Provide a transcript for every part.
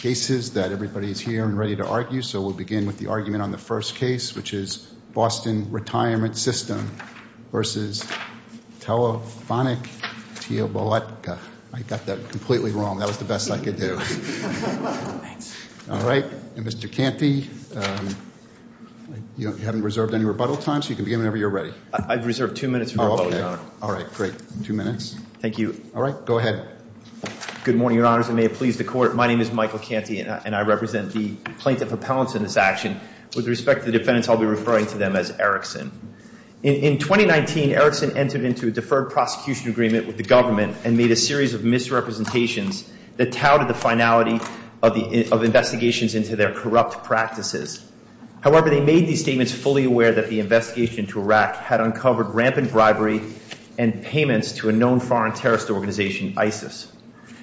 cases that everybody's here and ready to argue. So we'll begin with the argument on the first case, which is Boston Retirement System versus Telefonaktiebolaget. I got that completely wrong. That was the best I could do. Thanks. All right, and Mr. Canty, you haven't reserved any rebuttal time, so you can begin whenever you're ready. I've reserved two minutes for rebuttal, Your Honor. All right, great. Two minutes. Thank you. All right, go ahead. Good morning, Your Honors. And may it please the court, my name is Michael Canty, and I represent the plaintiff appellants in this action. With respect to the defendants, I'll be referring to them as Erickson. In 2019, Erickson entered into a deferred prosecution agreement with the government and made a series of misrepresentations that touted the finality of investigations into their corrupt practices. However, they made these statements fully aware that the investigation into Iraq had uncovered rampant bribery and payments to a known foreign terrorist organization, ISIS.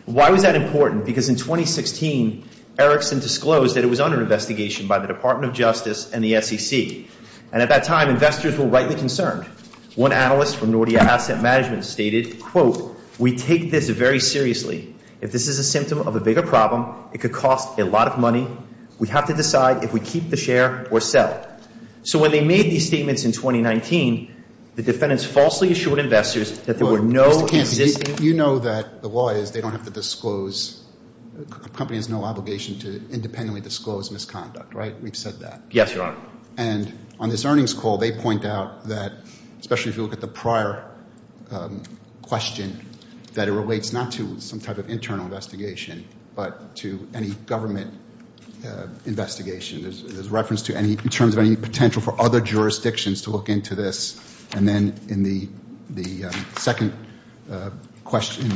Why was that important? Because in 2016, Erickson disclosed that it was under investigation by the Department of Justice and the SEC. And at that time, investors were rightly concerned. One analyst from Nordea Asset Management stated, quote, we take this very seriously. If this is a symptom of a bigger problem, it could cost a lot of money. We have to decide if we keep the share or sell. So when they made these statements in 2019, the defendants falsely assured investors that there were no existing- Mr. Canty, you know that the law is that they don't have to disclose, a company has no obligation to independently disclose misconduct, right? We've said that. Yes, Your Honor. And on this earnings call, they point out that, especially if you look at the prior question, that it relates not to some type of internal investigation, but to any government investigation. There's reference to any, in terms of any potential for other jurisdictions to look into this. And then in the second question,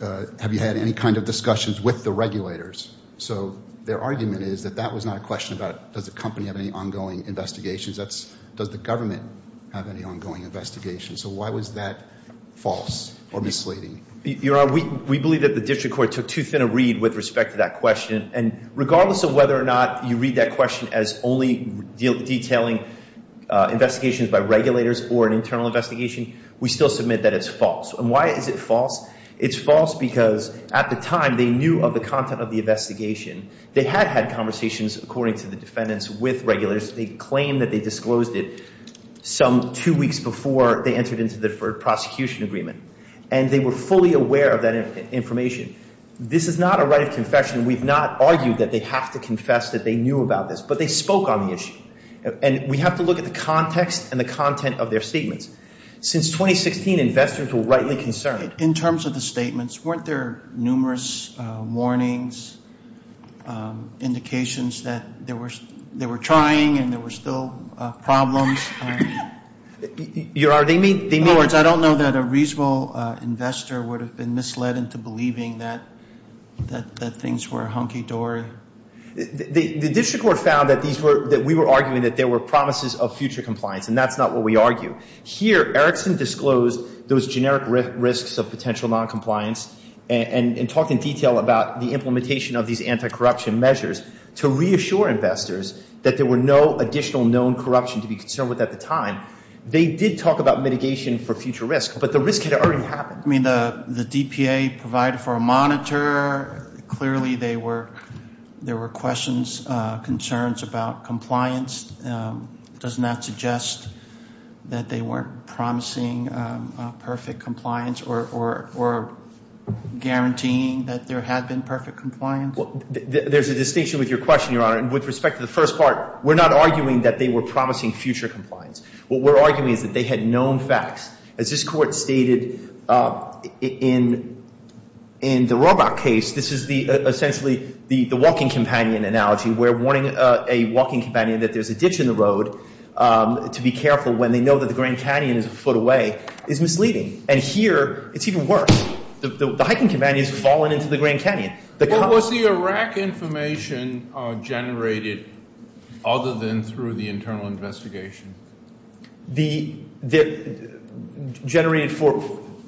have you had any kind of discussions with the regulators? So their argument is that that was not a question about, does the company have any ongoing investigations? Does the government have any ongoing investigations? So why was that false or misleading? Your Honor, we believe that the district court took too thin a read with respect to that question. And regardless of whether or not you read that question as only detailing investigations by regulators or an internal investigation, we still submit that it's false. And why is it false? It's false because at the time, they knew of the content of the investigation. They had had conversations, according to the defendants, with regulators. They claimed that they disclosed it some two weeks before they entered into the deferred prosecution agreement. And they were fully aware of that information. This is not a right of confession. We've not argued that they have to confess that they knew about this, but they spoke on the issue. And we have to look at the context and the content of their statements. Since 2016, investors were rightly concerned. In terms of the statements, weren't there numerous warnings, indications that they were trying and there were still problems? Your Honor, they mean... In other words, I don't know that a reasonable investor would have been misled into believing that things were hunky-dory. The district court found that we were arguing that there were promises of future compliance, and that's not what we argue. Here, Erickson disclosed those generic risks of potential noncompliance and talked in detail about the implementation of these anti-corruption measures to reassure investors that there were no additional known corruption to be concerned with at the time. They did talk about mitigation for future risk, but the risk had already happened. I mean, the DPA provided for a monitor. Clearly, there were questions, concerns about compliance. Does that suggest that they weren't promising perfect compliance or guaranteeing that there had been perfect compliance? There's a distinction with your question, Your Honor. With respect to the first part, we're not arguing that they were promising future compliance. What we're arguing is that they had known facts. As this court stated in the Roebuck case, this is essentially the walking companion analogy, where warning a walking companion that there's a ditch in the road to be careful when they know that the Grand Canyon is a foot away is misleading. And here, it's even worse. The hiking companion has fallen into the Grand Canyon. But was the Iraq information generated other than through the internal investigation? Generated for,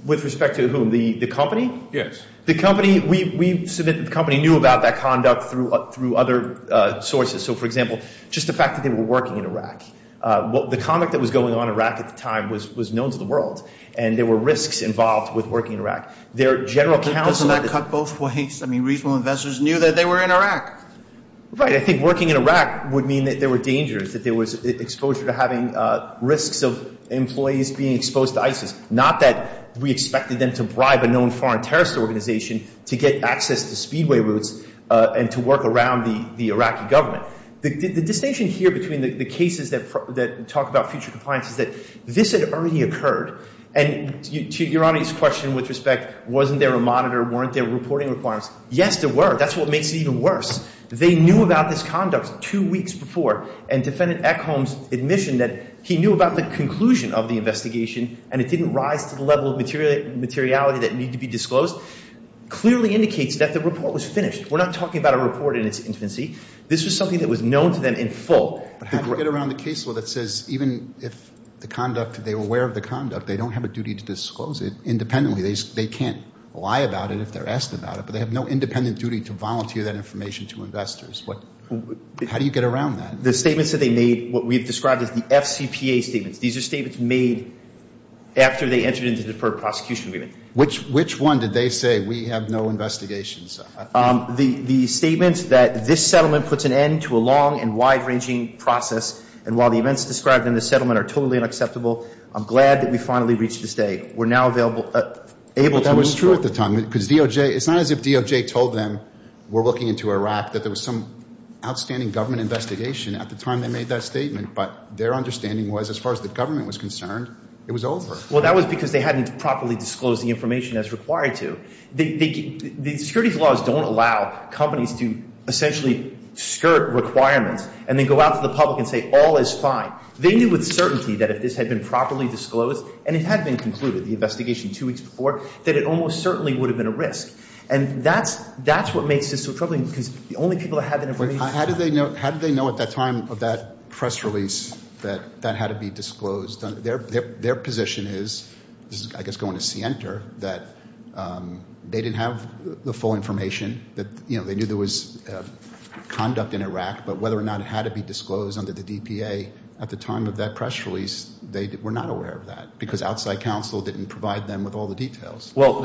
with respect to whom, the company? Yes. The company, we submit that the company knew about that conduct through other sources. So, for example, just the fact that they were working in Iraq. The conduct that was going on in Iraq at the time was known to the world. And there were risks involved with working in Iraq. Their general counsel- Doesn't that cut both ways? I mean, reasonable investors knew that they were in Iraq. Right, I think working in Iraq would mean that there were dangers, that there was exposure to having risks of employees being exposed to ISIS. Not that we expected them to bribe a known foreign terrorist organization to get access to speedway routes and to work around the Iraqi government. The distinction here between the cases that talk about future compliance is that this had already occurred. And to Your Honor's question with respect, wasn't there a monitor? Weren't there reporting requirements? Yes, there were. That's what makes it even worse. They knew about this conduct two weeks before. And Defendant Eckholm's admission that he knew about the conclusion of the investigation and it didn't rise to the level of materiality that needed to be disclosed clearly indicates that the report was finished. We're not talking about a report in its infancy. This was something that was known to them in full. But how do you get around the case law that says, even if they were aware of the conduct, they don't have a duty to disclose it independently. They can't lie about it if they're asked about it, but they have no independent duty to volunteer that information to investors. How do you get around that? The statements that they made, what we've described as the FCPA statements, these are statements made after they entered into the deferred prosecution agreement. Which one did they say, we have no investigations? The statement that this settlement puts an end to a long and wide-ranging process. And while the events described in the settlement are totally unacceptable, I'm glad that we finally reached this day. We're now able to move forward. That was true at the time. Because DOJ, it's not as if DOJ told them, we're looking into Iraq, that there was some outstanding government investigation at the time they made that statement. But their understanding was, as far as the government was concerned, it was over. Well, that was because they hadn't properly disclosed the information as required to. The securities laws don't allow companies to essentially skirt requirements and then go out to the public and say, all is fine. They knew with certainty that if this had been properly disclosed, and it had been concluded, the investigation two weeks before, that it almost certainly would have been a risk. And that's what makes this so troubling, because the only people that had that information- How did they know at that time of that press release that that had to be disclosed? Their position is, I guess going to see enter, that they didn't have the full information, that they knew there was conduct in Iraq, but whether or not it had to be disclosed under the DPA at the time of that press release, they were not aware of that, because outside counsel didn't provide them with all the details. Well,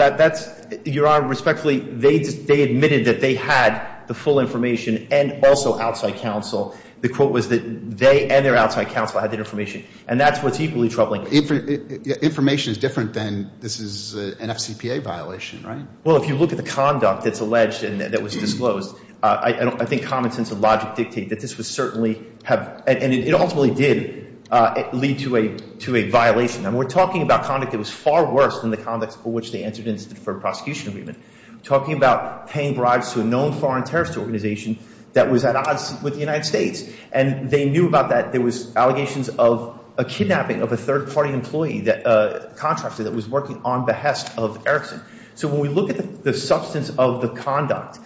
Your Honor, respectfully, they admitted that they had the full information and also outside counsel. The quote was that they and their outside counsel had that information. And that's what's equally troubling. Information is different than this is an FCPA violation, right? Well, if you look at the conduct that's alleged and that was disclosed, I think common sense and logic dictate that this was certainly, and it ultimately did lead to a violation. And we're talking about conduct that was far worse than the conduct for which they entered into the deferred prosecution agreement. Talking about paying bribes to a known foreign terrorist organization that was at odds with the United States. And they knew about that. There was allegations of a kidnapping of a third-party employee, a contractor that was working on behest of Erickson. So when we look at the substance of the conduct,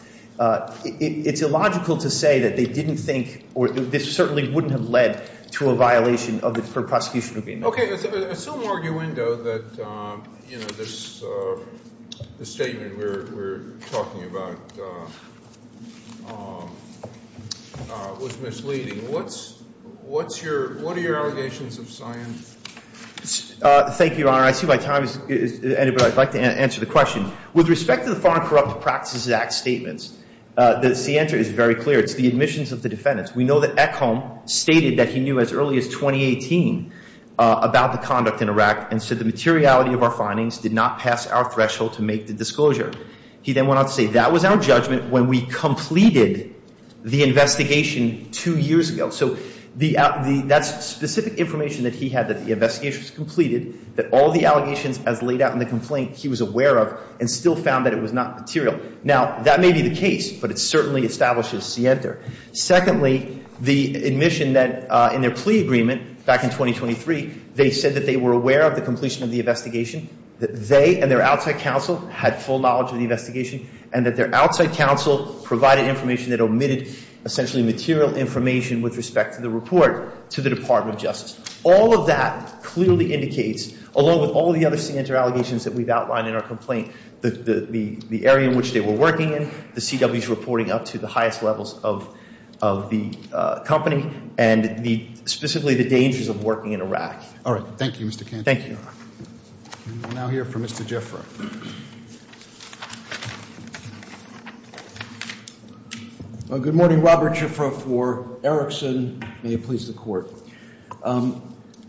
it's illogical to say that they didn't think, or this certainly wouldn't have led to a violation of the deferred prosecution agreement. Okay. Assume arguendo that this statement we're talking about was misleading. What's your, what are your allegations of science? Thank you, Your Honor. I see my time is, anybody I'd like to answer the question. With respect to the Foreign Corrupt Practices Act statements the answer is very clear. It's the admissions of the defendants. We know that Ekhom stated that he knew as early as 2018 about the conduct in Iraq and said the materiality of our findings did not pass our threshold to make the disclosure. He then went on to say that was our judgment when we completed the investigation two years ago. So that's specific information that he had that the investigation was completed, that all the allegations as laid out in the complaint he was aware of and still found that it was not material. Now that may be the case, but it certainly establishes scienter. Secondly, the admission that in their plea agreement back in 2023, they said that they were aware that they and their outside counsel had full knowledge of the investigation and that their outside counsel provided information that omitted essentially material information with respect to the report to the Department of Justice. All of that clearly indicates, along with all the other scienter allegations that we've outlined in our complaint, the area in which they were working in, the CWs reporting up to the highest levels of the company and specifically the dangers of working in Iraq. All right, thank you, Mr. Cantor. Thank you. We'll now hear from Mr. Jaffer. Good morning, Robert Jaffer for Erickson. May it please the court.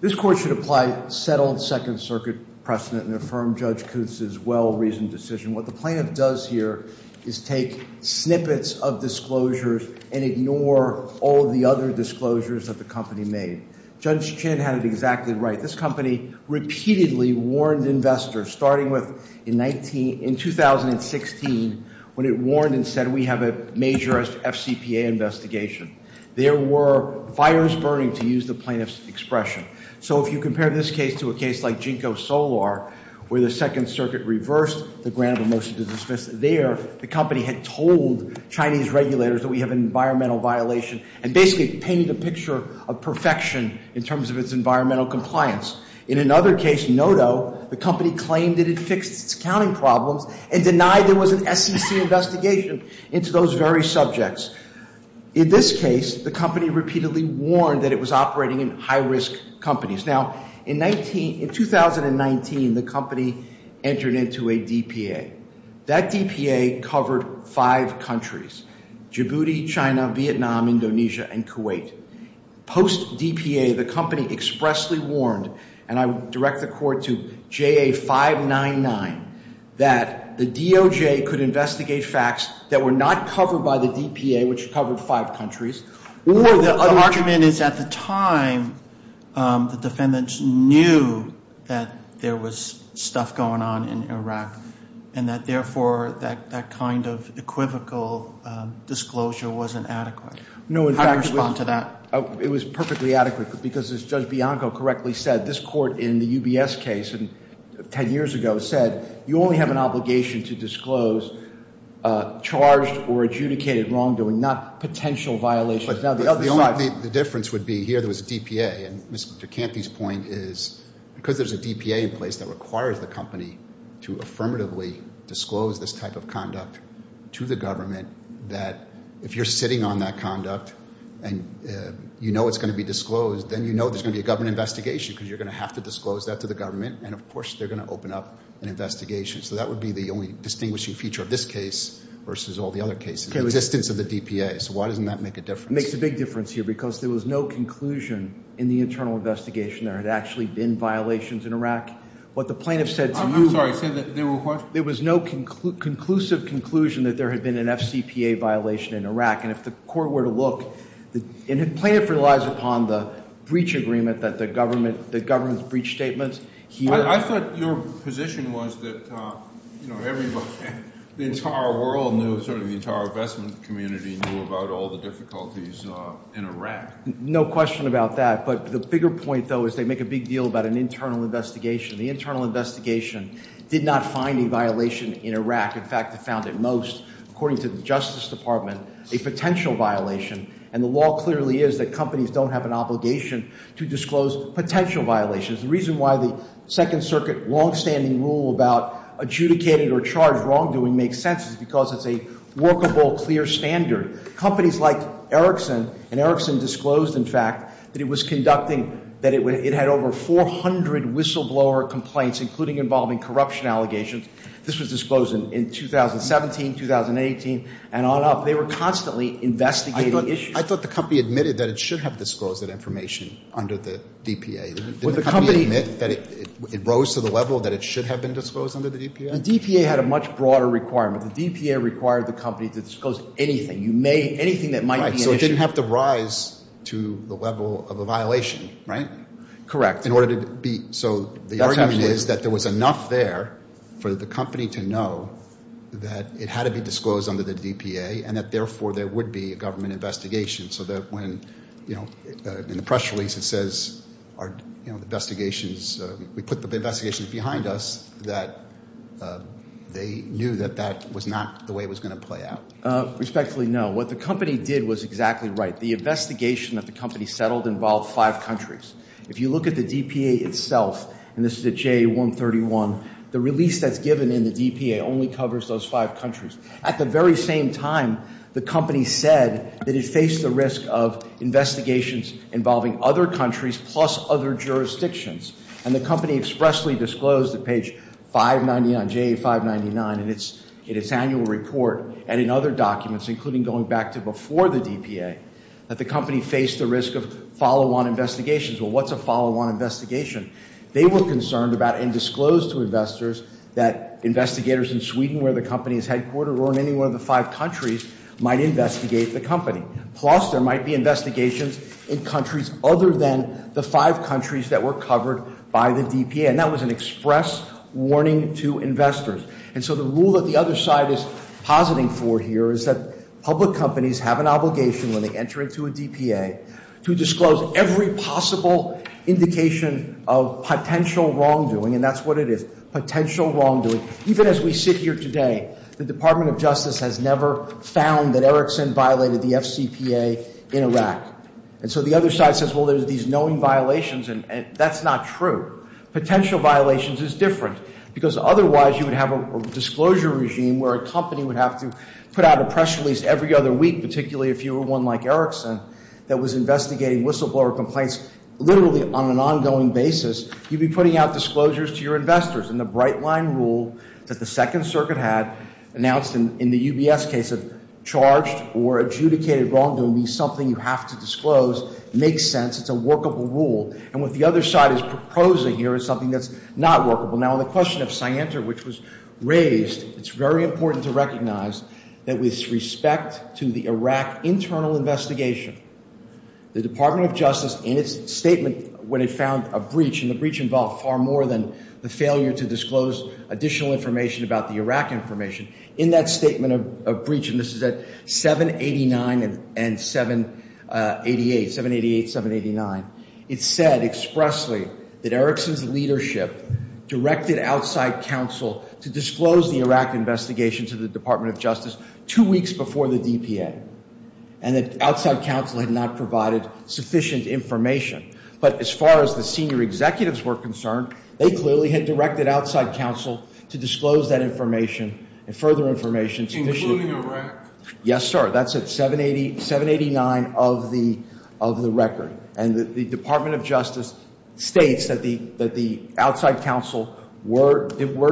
This court should apply settled Second Circuit precedent and affirm Judge Kutz's well-reasoned decision. What the plaintiff does here is take snippets of disclosures and ignore all the other disclosures that the company made. Judge Chin had it exactly right. This company repeatedly warned investors, starting with in 2016, when it warned and said, we have a major FCPA investigation. There were fires burning, to use the plaintiff's expression. So if you compare this case to a case like Jinko Solar, where the Second Circuit reversed the grant of a motion to dismiss there, the company had told Chinese regulators that we have an environmental violation and basically painted a picture of perfection in terms of its environmental compliance. In another case, Noto, the company claimed that it fixed its accounting problems and denied there was an SEC investigation into those very subjects. In this case, the company repeatedly warned that it was operating in high-risk companies. Now, in 2019, the company entered into a DPA. That DPA covered five countries, Djibouti, China, Vietnam, Indonesia, and Kuwait. Post-DPA, the company expressly warned, and I direct the court to JA 599, that the DOJ could investigate facts that were not covered by the DPA, which covered five countries. Or the argument is at the time, the defendants knew that there was stuff going on in Iraq, and that therefore, that kind of equivocal disclosure wasn't adequate. How do you respond to that? It was perfectly adequate, because as Judge Bianco correctly said, this court in the UBS case 10 years ago you only have an obligation to disclose charged or adjudicated wrongdoing, not potential violations. Now, the other side- The difference would be, here there was a DPA, and Mr. Ducanti's point is, because there's a DPA in place that requires the company to affirmatively disclose this type of conduct to the government, that if you're sitting on that conduct, and you know it's gonna be disclosed, then you know there's gonna be a government investigation, because you're gonna have to disclose that to the government, and of course, they're gonna open up an investigation. So that would be the only distinguishing feature of this case versus all the other cases, the existence of the DPA. So why doesn't that make a difference? It makes a big difference here, because there was no conclusion in the internal investigation. There had actually been violations in Iraq. What the plaintiff said to you- I'm sorry, say that there were- There was no conclusive conclusion that there had been an FCPA violation in Iraq, and if the court were to look, and the plaintiff relies upon the breach agreement that the government's breach statements, he would- I thought your position was that everybody, the entire world knew, sort of the entire investment community knew about all the difficulties in Iraq. No question about that, but the bigger point, though, is they make a big deal about an internal investigation. The internal investigation did not find a violation in Iraq. In fact, they found it most, according to the Justice Department, a potential violation, and the law clearly is that companies don't have an obligation to disclose potential violations. The reason why the Second Circuit longstanding rule about adjudicated or charged wrongdoing makes sense is because it's a workable, clear standard. Companies like Erickson, and Erickson disclosed, in fact, that it was conducting, that it had over 400 whistleblower complaints, including involving corruption allegations. This was disclosed in 2017, 2018, and on up. They were constantly investigating issues. I thought the company admitted that it should have disclosed that information under the DPA. Did the company admit that it rose to the level that it should have been disclosed under the DPA? The DPA had a much broader requirement. The DPA required the company to disclose anything. You may, anything that might be an issue. Right, so it didn't have to rise to the level of a violation, right? Correct. In order to be, so the argument is that there was enough there for the company to know that it had to be disclosed under the DPA, and that therefore there would be a government investigation so that when, you know, in the press release it says, you know, investigations, we put the investigations behind us, that they knew that that was not the way it was gonna play out. Respectfully, no. What the company did was exactly right. The investigation that the company settled involved five countries. If you look at the DPA itself, and this is at JA-131, the release that's given in the DPA only covers those five countries. At the very same time, the company said that it faced the risk of investigations involving other countries plus other jurisdictions, and the company expressly disclosed at page 599, JA-599 in its annual report and in other documents, including going back to before the DPA, that the company faced the risk of follow-on investigations. Well, what's a follow-on investigation? They were concerned about, and disclosed to investors, that investigators in Sweden, where the company is headquartered, or in any one of the five countries, might investigate the company. Plus, there might be investigations in countries other than the five countries that were covered by the DPA. And that was an express warning to investors. And so the rule that the other side is positing for here is that public companies have an obligation when they enter into a DPA to disclose every possible indication of potential wrongdoing, and that's what it is, potential wrongdoing. Even as we sit here today, the Department of Justice has never found that Erickson violated the FCPA in Iraq. And so the other side says, well, there's these knowing violations, and that's not true. Potential violations is different, because otherwise you would have a disclosure regime where a company would have to put out a press release every other week, particularly if you were one like Erickson that was investigating whistleblower complaints literally on an ongoing basis. You'd be putting out disclosures to your investors. And the bright line rule that the Second Circuit had announced in the UBS case of charged or adjudicated wrongdoing is something you have to disclose. Makes sense. It's a workable rule. And what the other side is proposing here is something that's not workable. Now, on the question of Scienter, which was raised, it's very important to recognize that with respect to the Iraq internal investigation, the Department of Justice, in its statement, when it found a breach, and the breach involved far more than the failure to disclose additional information about the Iraq information, in that statement of breach, and this is at 789 and 788, 788, 789, it said expressly that Erickson's leadership directed outside counsel to disclose the Iraq investigation to the Department of Justice two weeks before the DPA. And that outside counsel had not provided sufficient information. But as far as the senior executives were concerned, they clearly had directed outside counsel to disclose that information and further information. Including Iraq? Yes, sir. That's at 789 of the record. And the Department of Justice states that the outside counsel were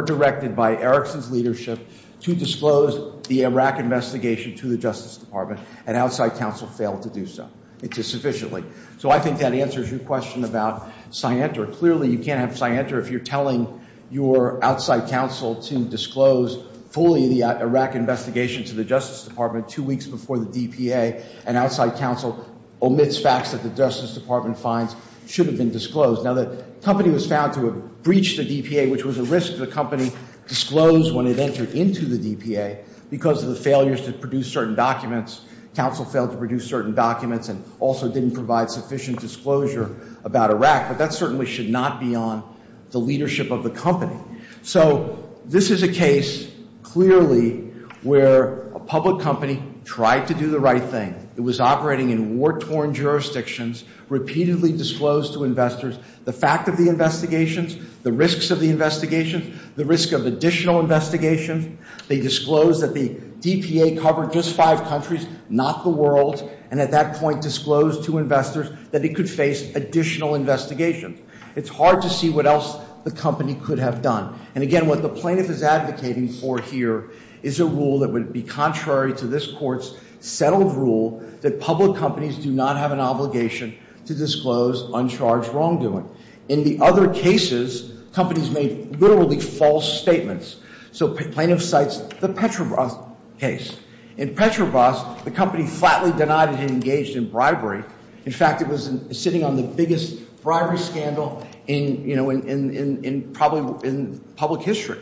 directed by Erickson's leadership to disclose the Iraq investigation to the Justice Department, and outside counsel failed to do so. It's a sufficiently. So I think that answers your question about Scienter. Clearly, you can't have Scienter if you're telling your outside counsel to disclose fully the Iraq investigation to the Justice Department two weeks before the DPA, and outside counsel omits facts that the Justice Department finds should have been disclosed. Now, the company was found to have breached the DPA, which was a risk the company disclosed when it entered into the DPA because of the failures to produce certain documents. Counsel failed to produce certain documents and also didn't provide sufficient disclosure about Iraq. But that certainly should not be on the leadership of the company. So this is a case, clearly, where a public company tried to do the right thing. It was operating in war-torn jurisdictions, repeatedly disclosed to investors the fact of the investigations, the risks of the investigations, the risk of additional investigations. They disclosed that the DPA covered just five countries, not the world, and at that point disclosed to investors that it could face additional investigations. It's hard to see what else the company could have done. And again, what the plaintiff is advocating for here is a rule that would be contrary to this court's settled rule that public companies do not have an obligation to disclose uncharged wrongdoing. In the other cases, companies made literally false statements. So plaintiff cites the Petrobras case. In Petrobras, the company flatly denied that it engaged in bribery. In fact, it was sitting on the biggest bribery scandal in probably in public history.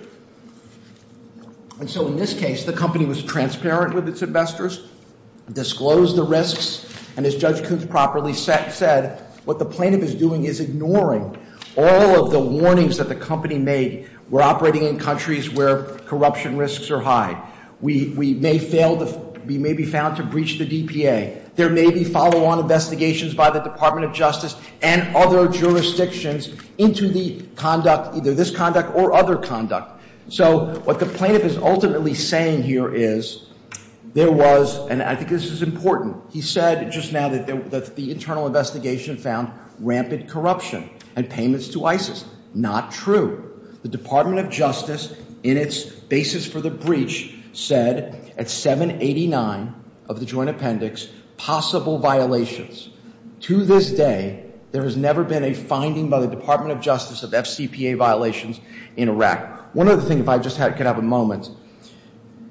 And so in this case, the company was transparent with its investors, disclosed the risks, and as Judge Koontz properly said, what the plaintiff is doing is ignoring all of the warnings that the company made were operating in countries where corruption risks are high. We may be found to breach the DPA. There may be follow-on investigations by the Department of Justice and other jurisdictions into the conduct, either this conduct or other conduct. So what the plaintiff is ultimately saying here is there was, and I think this is important, he said just now that the internal investigation found rampant corruption and payments to ISIS. Not true. The Department of Justice in its basis for the breach said at 789 of the joint appendix, possible violations. To this day, there has never been a finding by the Department of Justice of FCPA violations in Iraq. One other thing, if I just could have a moment.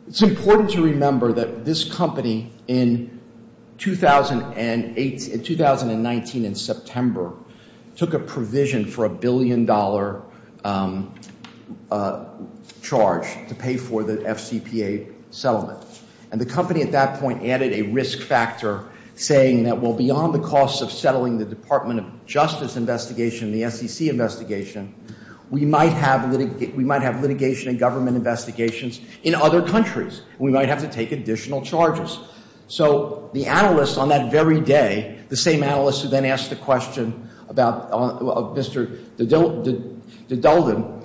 It's important to remember that this company in 2008, in 2019 in September took a provision for a billion dollar charge to pay for the FCPA settlement. And the company at that point added a risk factor saying that well, beyond the costs of settling the Department of Justice investigation, the SEC investigation, we might have litigation and government investigations in other countries. We might have to take additional charges. So the analysts on that very day, the same analysts who then asked the question about Mr. De Dulden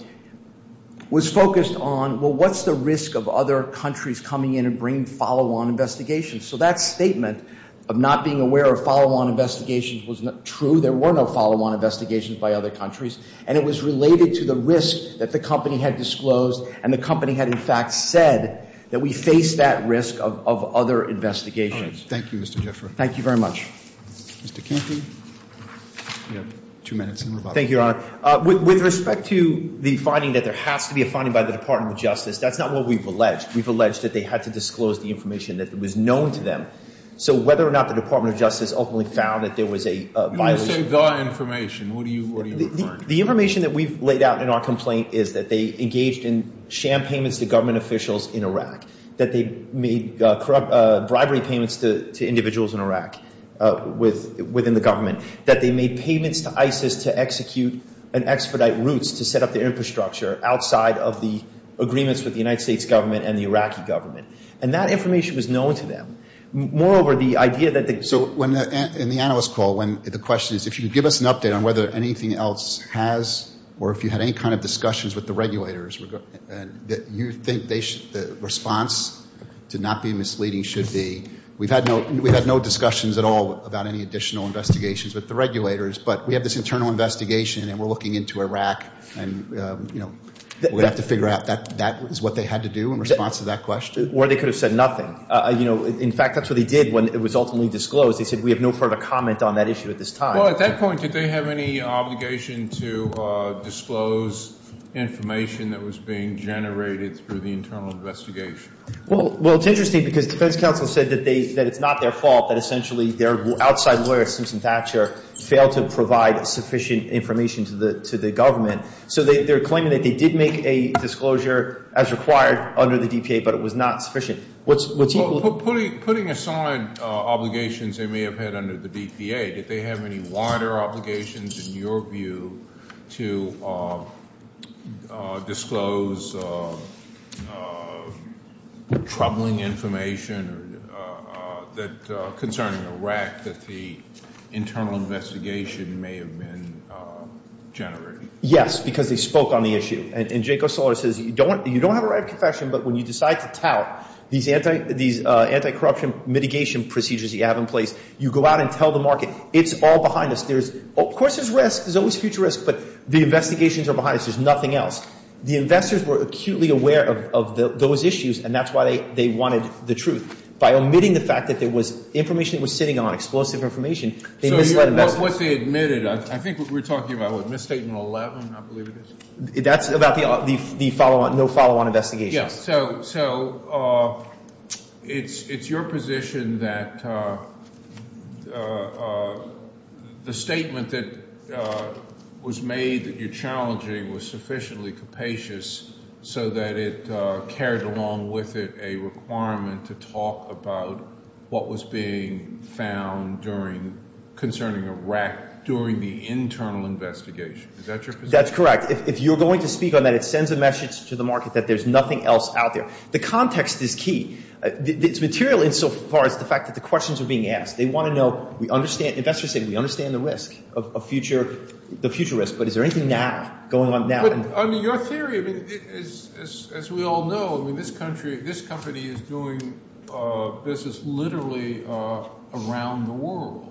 was focused on, well, what's the risk of other countries coming in and bringing follow-on investigations? So that statement of not being aware of follow-on investigations was not true. There were no follow-on investigations by other countries. And it was related to the risk that the company had disclosed and the company had in fact said that we face that risk of other investigations. Thank you, Mr. Jeffery. Thank you very much. Mr. Canty. You have two minutes. Thank you, Your Honor. With respect to the finding that there has to be a finding by the Department of Justice, that's not what we've alleged. We've alleged that they had to disclose the information that was known to them. So whether or not the Department of Justice ultimately found that there was a violation- You didn't say the information. What are you referring to? The information that we've laid out in our complaint is that they engaged in sham payments to government officials in Iraq, that they made bribery payments to individuals in Iraq within the government, that they made payments to ISIS to execute and expedite routes to set up the infrastructure outside of the agreements with the United States government and the Iraqi government. And that information was known to them. Moreover, the idea that they- So when, in the analyst call, when the question is, if you could give us an update on whether anything else has, or if you had any kind of discussions with the regulators, you think the response to not be misleading should be. We've had no discussions at all about any additional investigations with the regulators, but we have this internal investigation and we're looking into Iraq and we're gonna have to figure out that that is what they had to do in response to that question? Or they could have said nothing. In fact, that's what they did when it was ultimately disclosed. They said, we have no further comment on that issue at this time. Well, at that point, did they have any obligation to disclose information that was being generated through the internal investigation? Well, it's interesting because defense counsel said that it's not their fault, that essentially their outside lawyer, Simpson Thatcher, failed to provide sufficient information to the government. So they're claiming that they did make a disclosure as required under the DPA, but it was not sufficient. What's equal to- Putting aside obligations they may have had under the DPA, did they have any wider obligations in your view to disclose troubling information concerning Iraq that the internal investigation may have been generated? Yes, because they spoke on the issue. And Jake O'Sullivan says, you don't have a right of confession, but when you decide to tout these anti-corruption mitigation procedures you have in place, you go out and tell the market, it's all behind us. There's, of course there's risk, there's always future risk, but the investigations are behind us, there's nothing else. The investors were acutely aware of those issues and that's why they wanted the truth. By omitting the fact that there was information that was sitting on, explosive information, they misled investors. So what they admitted, I think we're talking about what, misstatement 11, I believe it is? That's about the follow-on, no follow-on investigation. So it's your position that the statement that was made that you're challenging was sufficiently capacious so that it carried along with it a requirement to talk about what was being found during, concerning Iraq during the internal investigation. Is that your position? That's correct. If you're going to speak on that, it sends a message to the market that there's nothing else out there. The context is key. It's material insofar as the fact that the questions are being asked. They want to know, we understand, investors say, we understand the risk of a future, the future risk, but is there anything now, going on now? I mean, your theory is, as we all know, I mean, this country, this company is doing business literally around the world.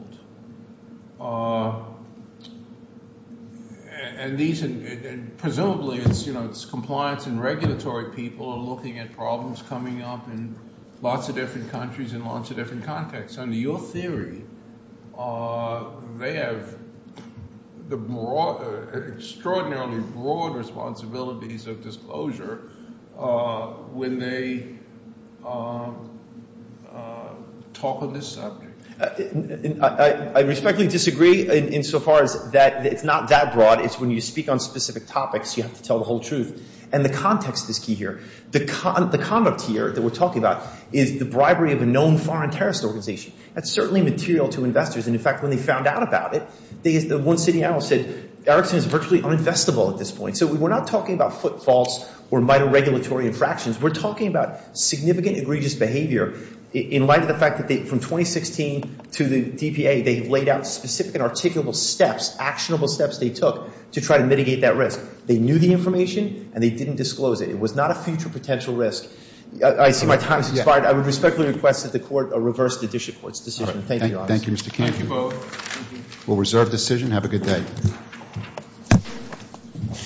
And these, and presumably, it's, you know, it's compliance and regulatory people are looking at problems coming up in lots of different countries and lots of different contexts. Under your theory, they have the extraordinary broad responsibilities of disclosure when they talk on this subject. I respectfully disagree insofar as that it's not that broad. It's when you speak on specific topics, you have to tell the whole truth. And the context is key here. The conduct here that we're talking about is the bribery of a known foreign terrorist organization. That's certainly material to investors. And in fact, when they found out about it, the one sitting analyst said, Erickson is virtually uninvestable at this point. So we're not talking about footfalls or minor regulatory infractions. We're talking about significant egregious behavior in light of the fact that they, from 2016 to the DPA, they laid out specific and articulable steps, actionable steps they took to try to mitigate that risk. They knew the information and they didn't disclose it. It was not a future potential risk. I see my time has expired. I would respectfully request that the court reverse the district court's decision. Thank you, Your Honor. Thank you, Mr. Canfield. We'll reserve decision. Have a good day.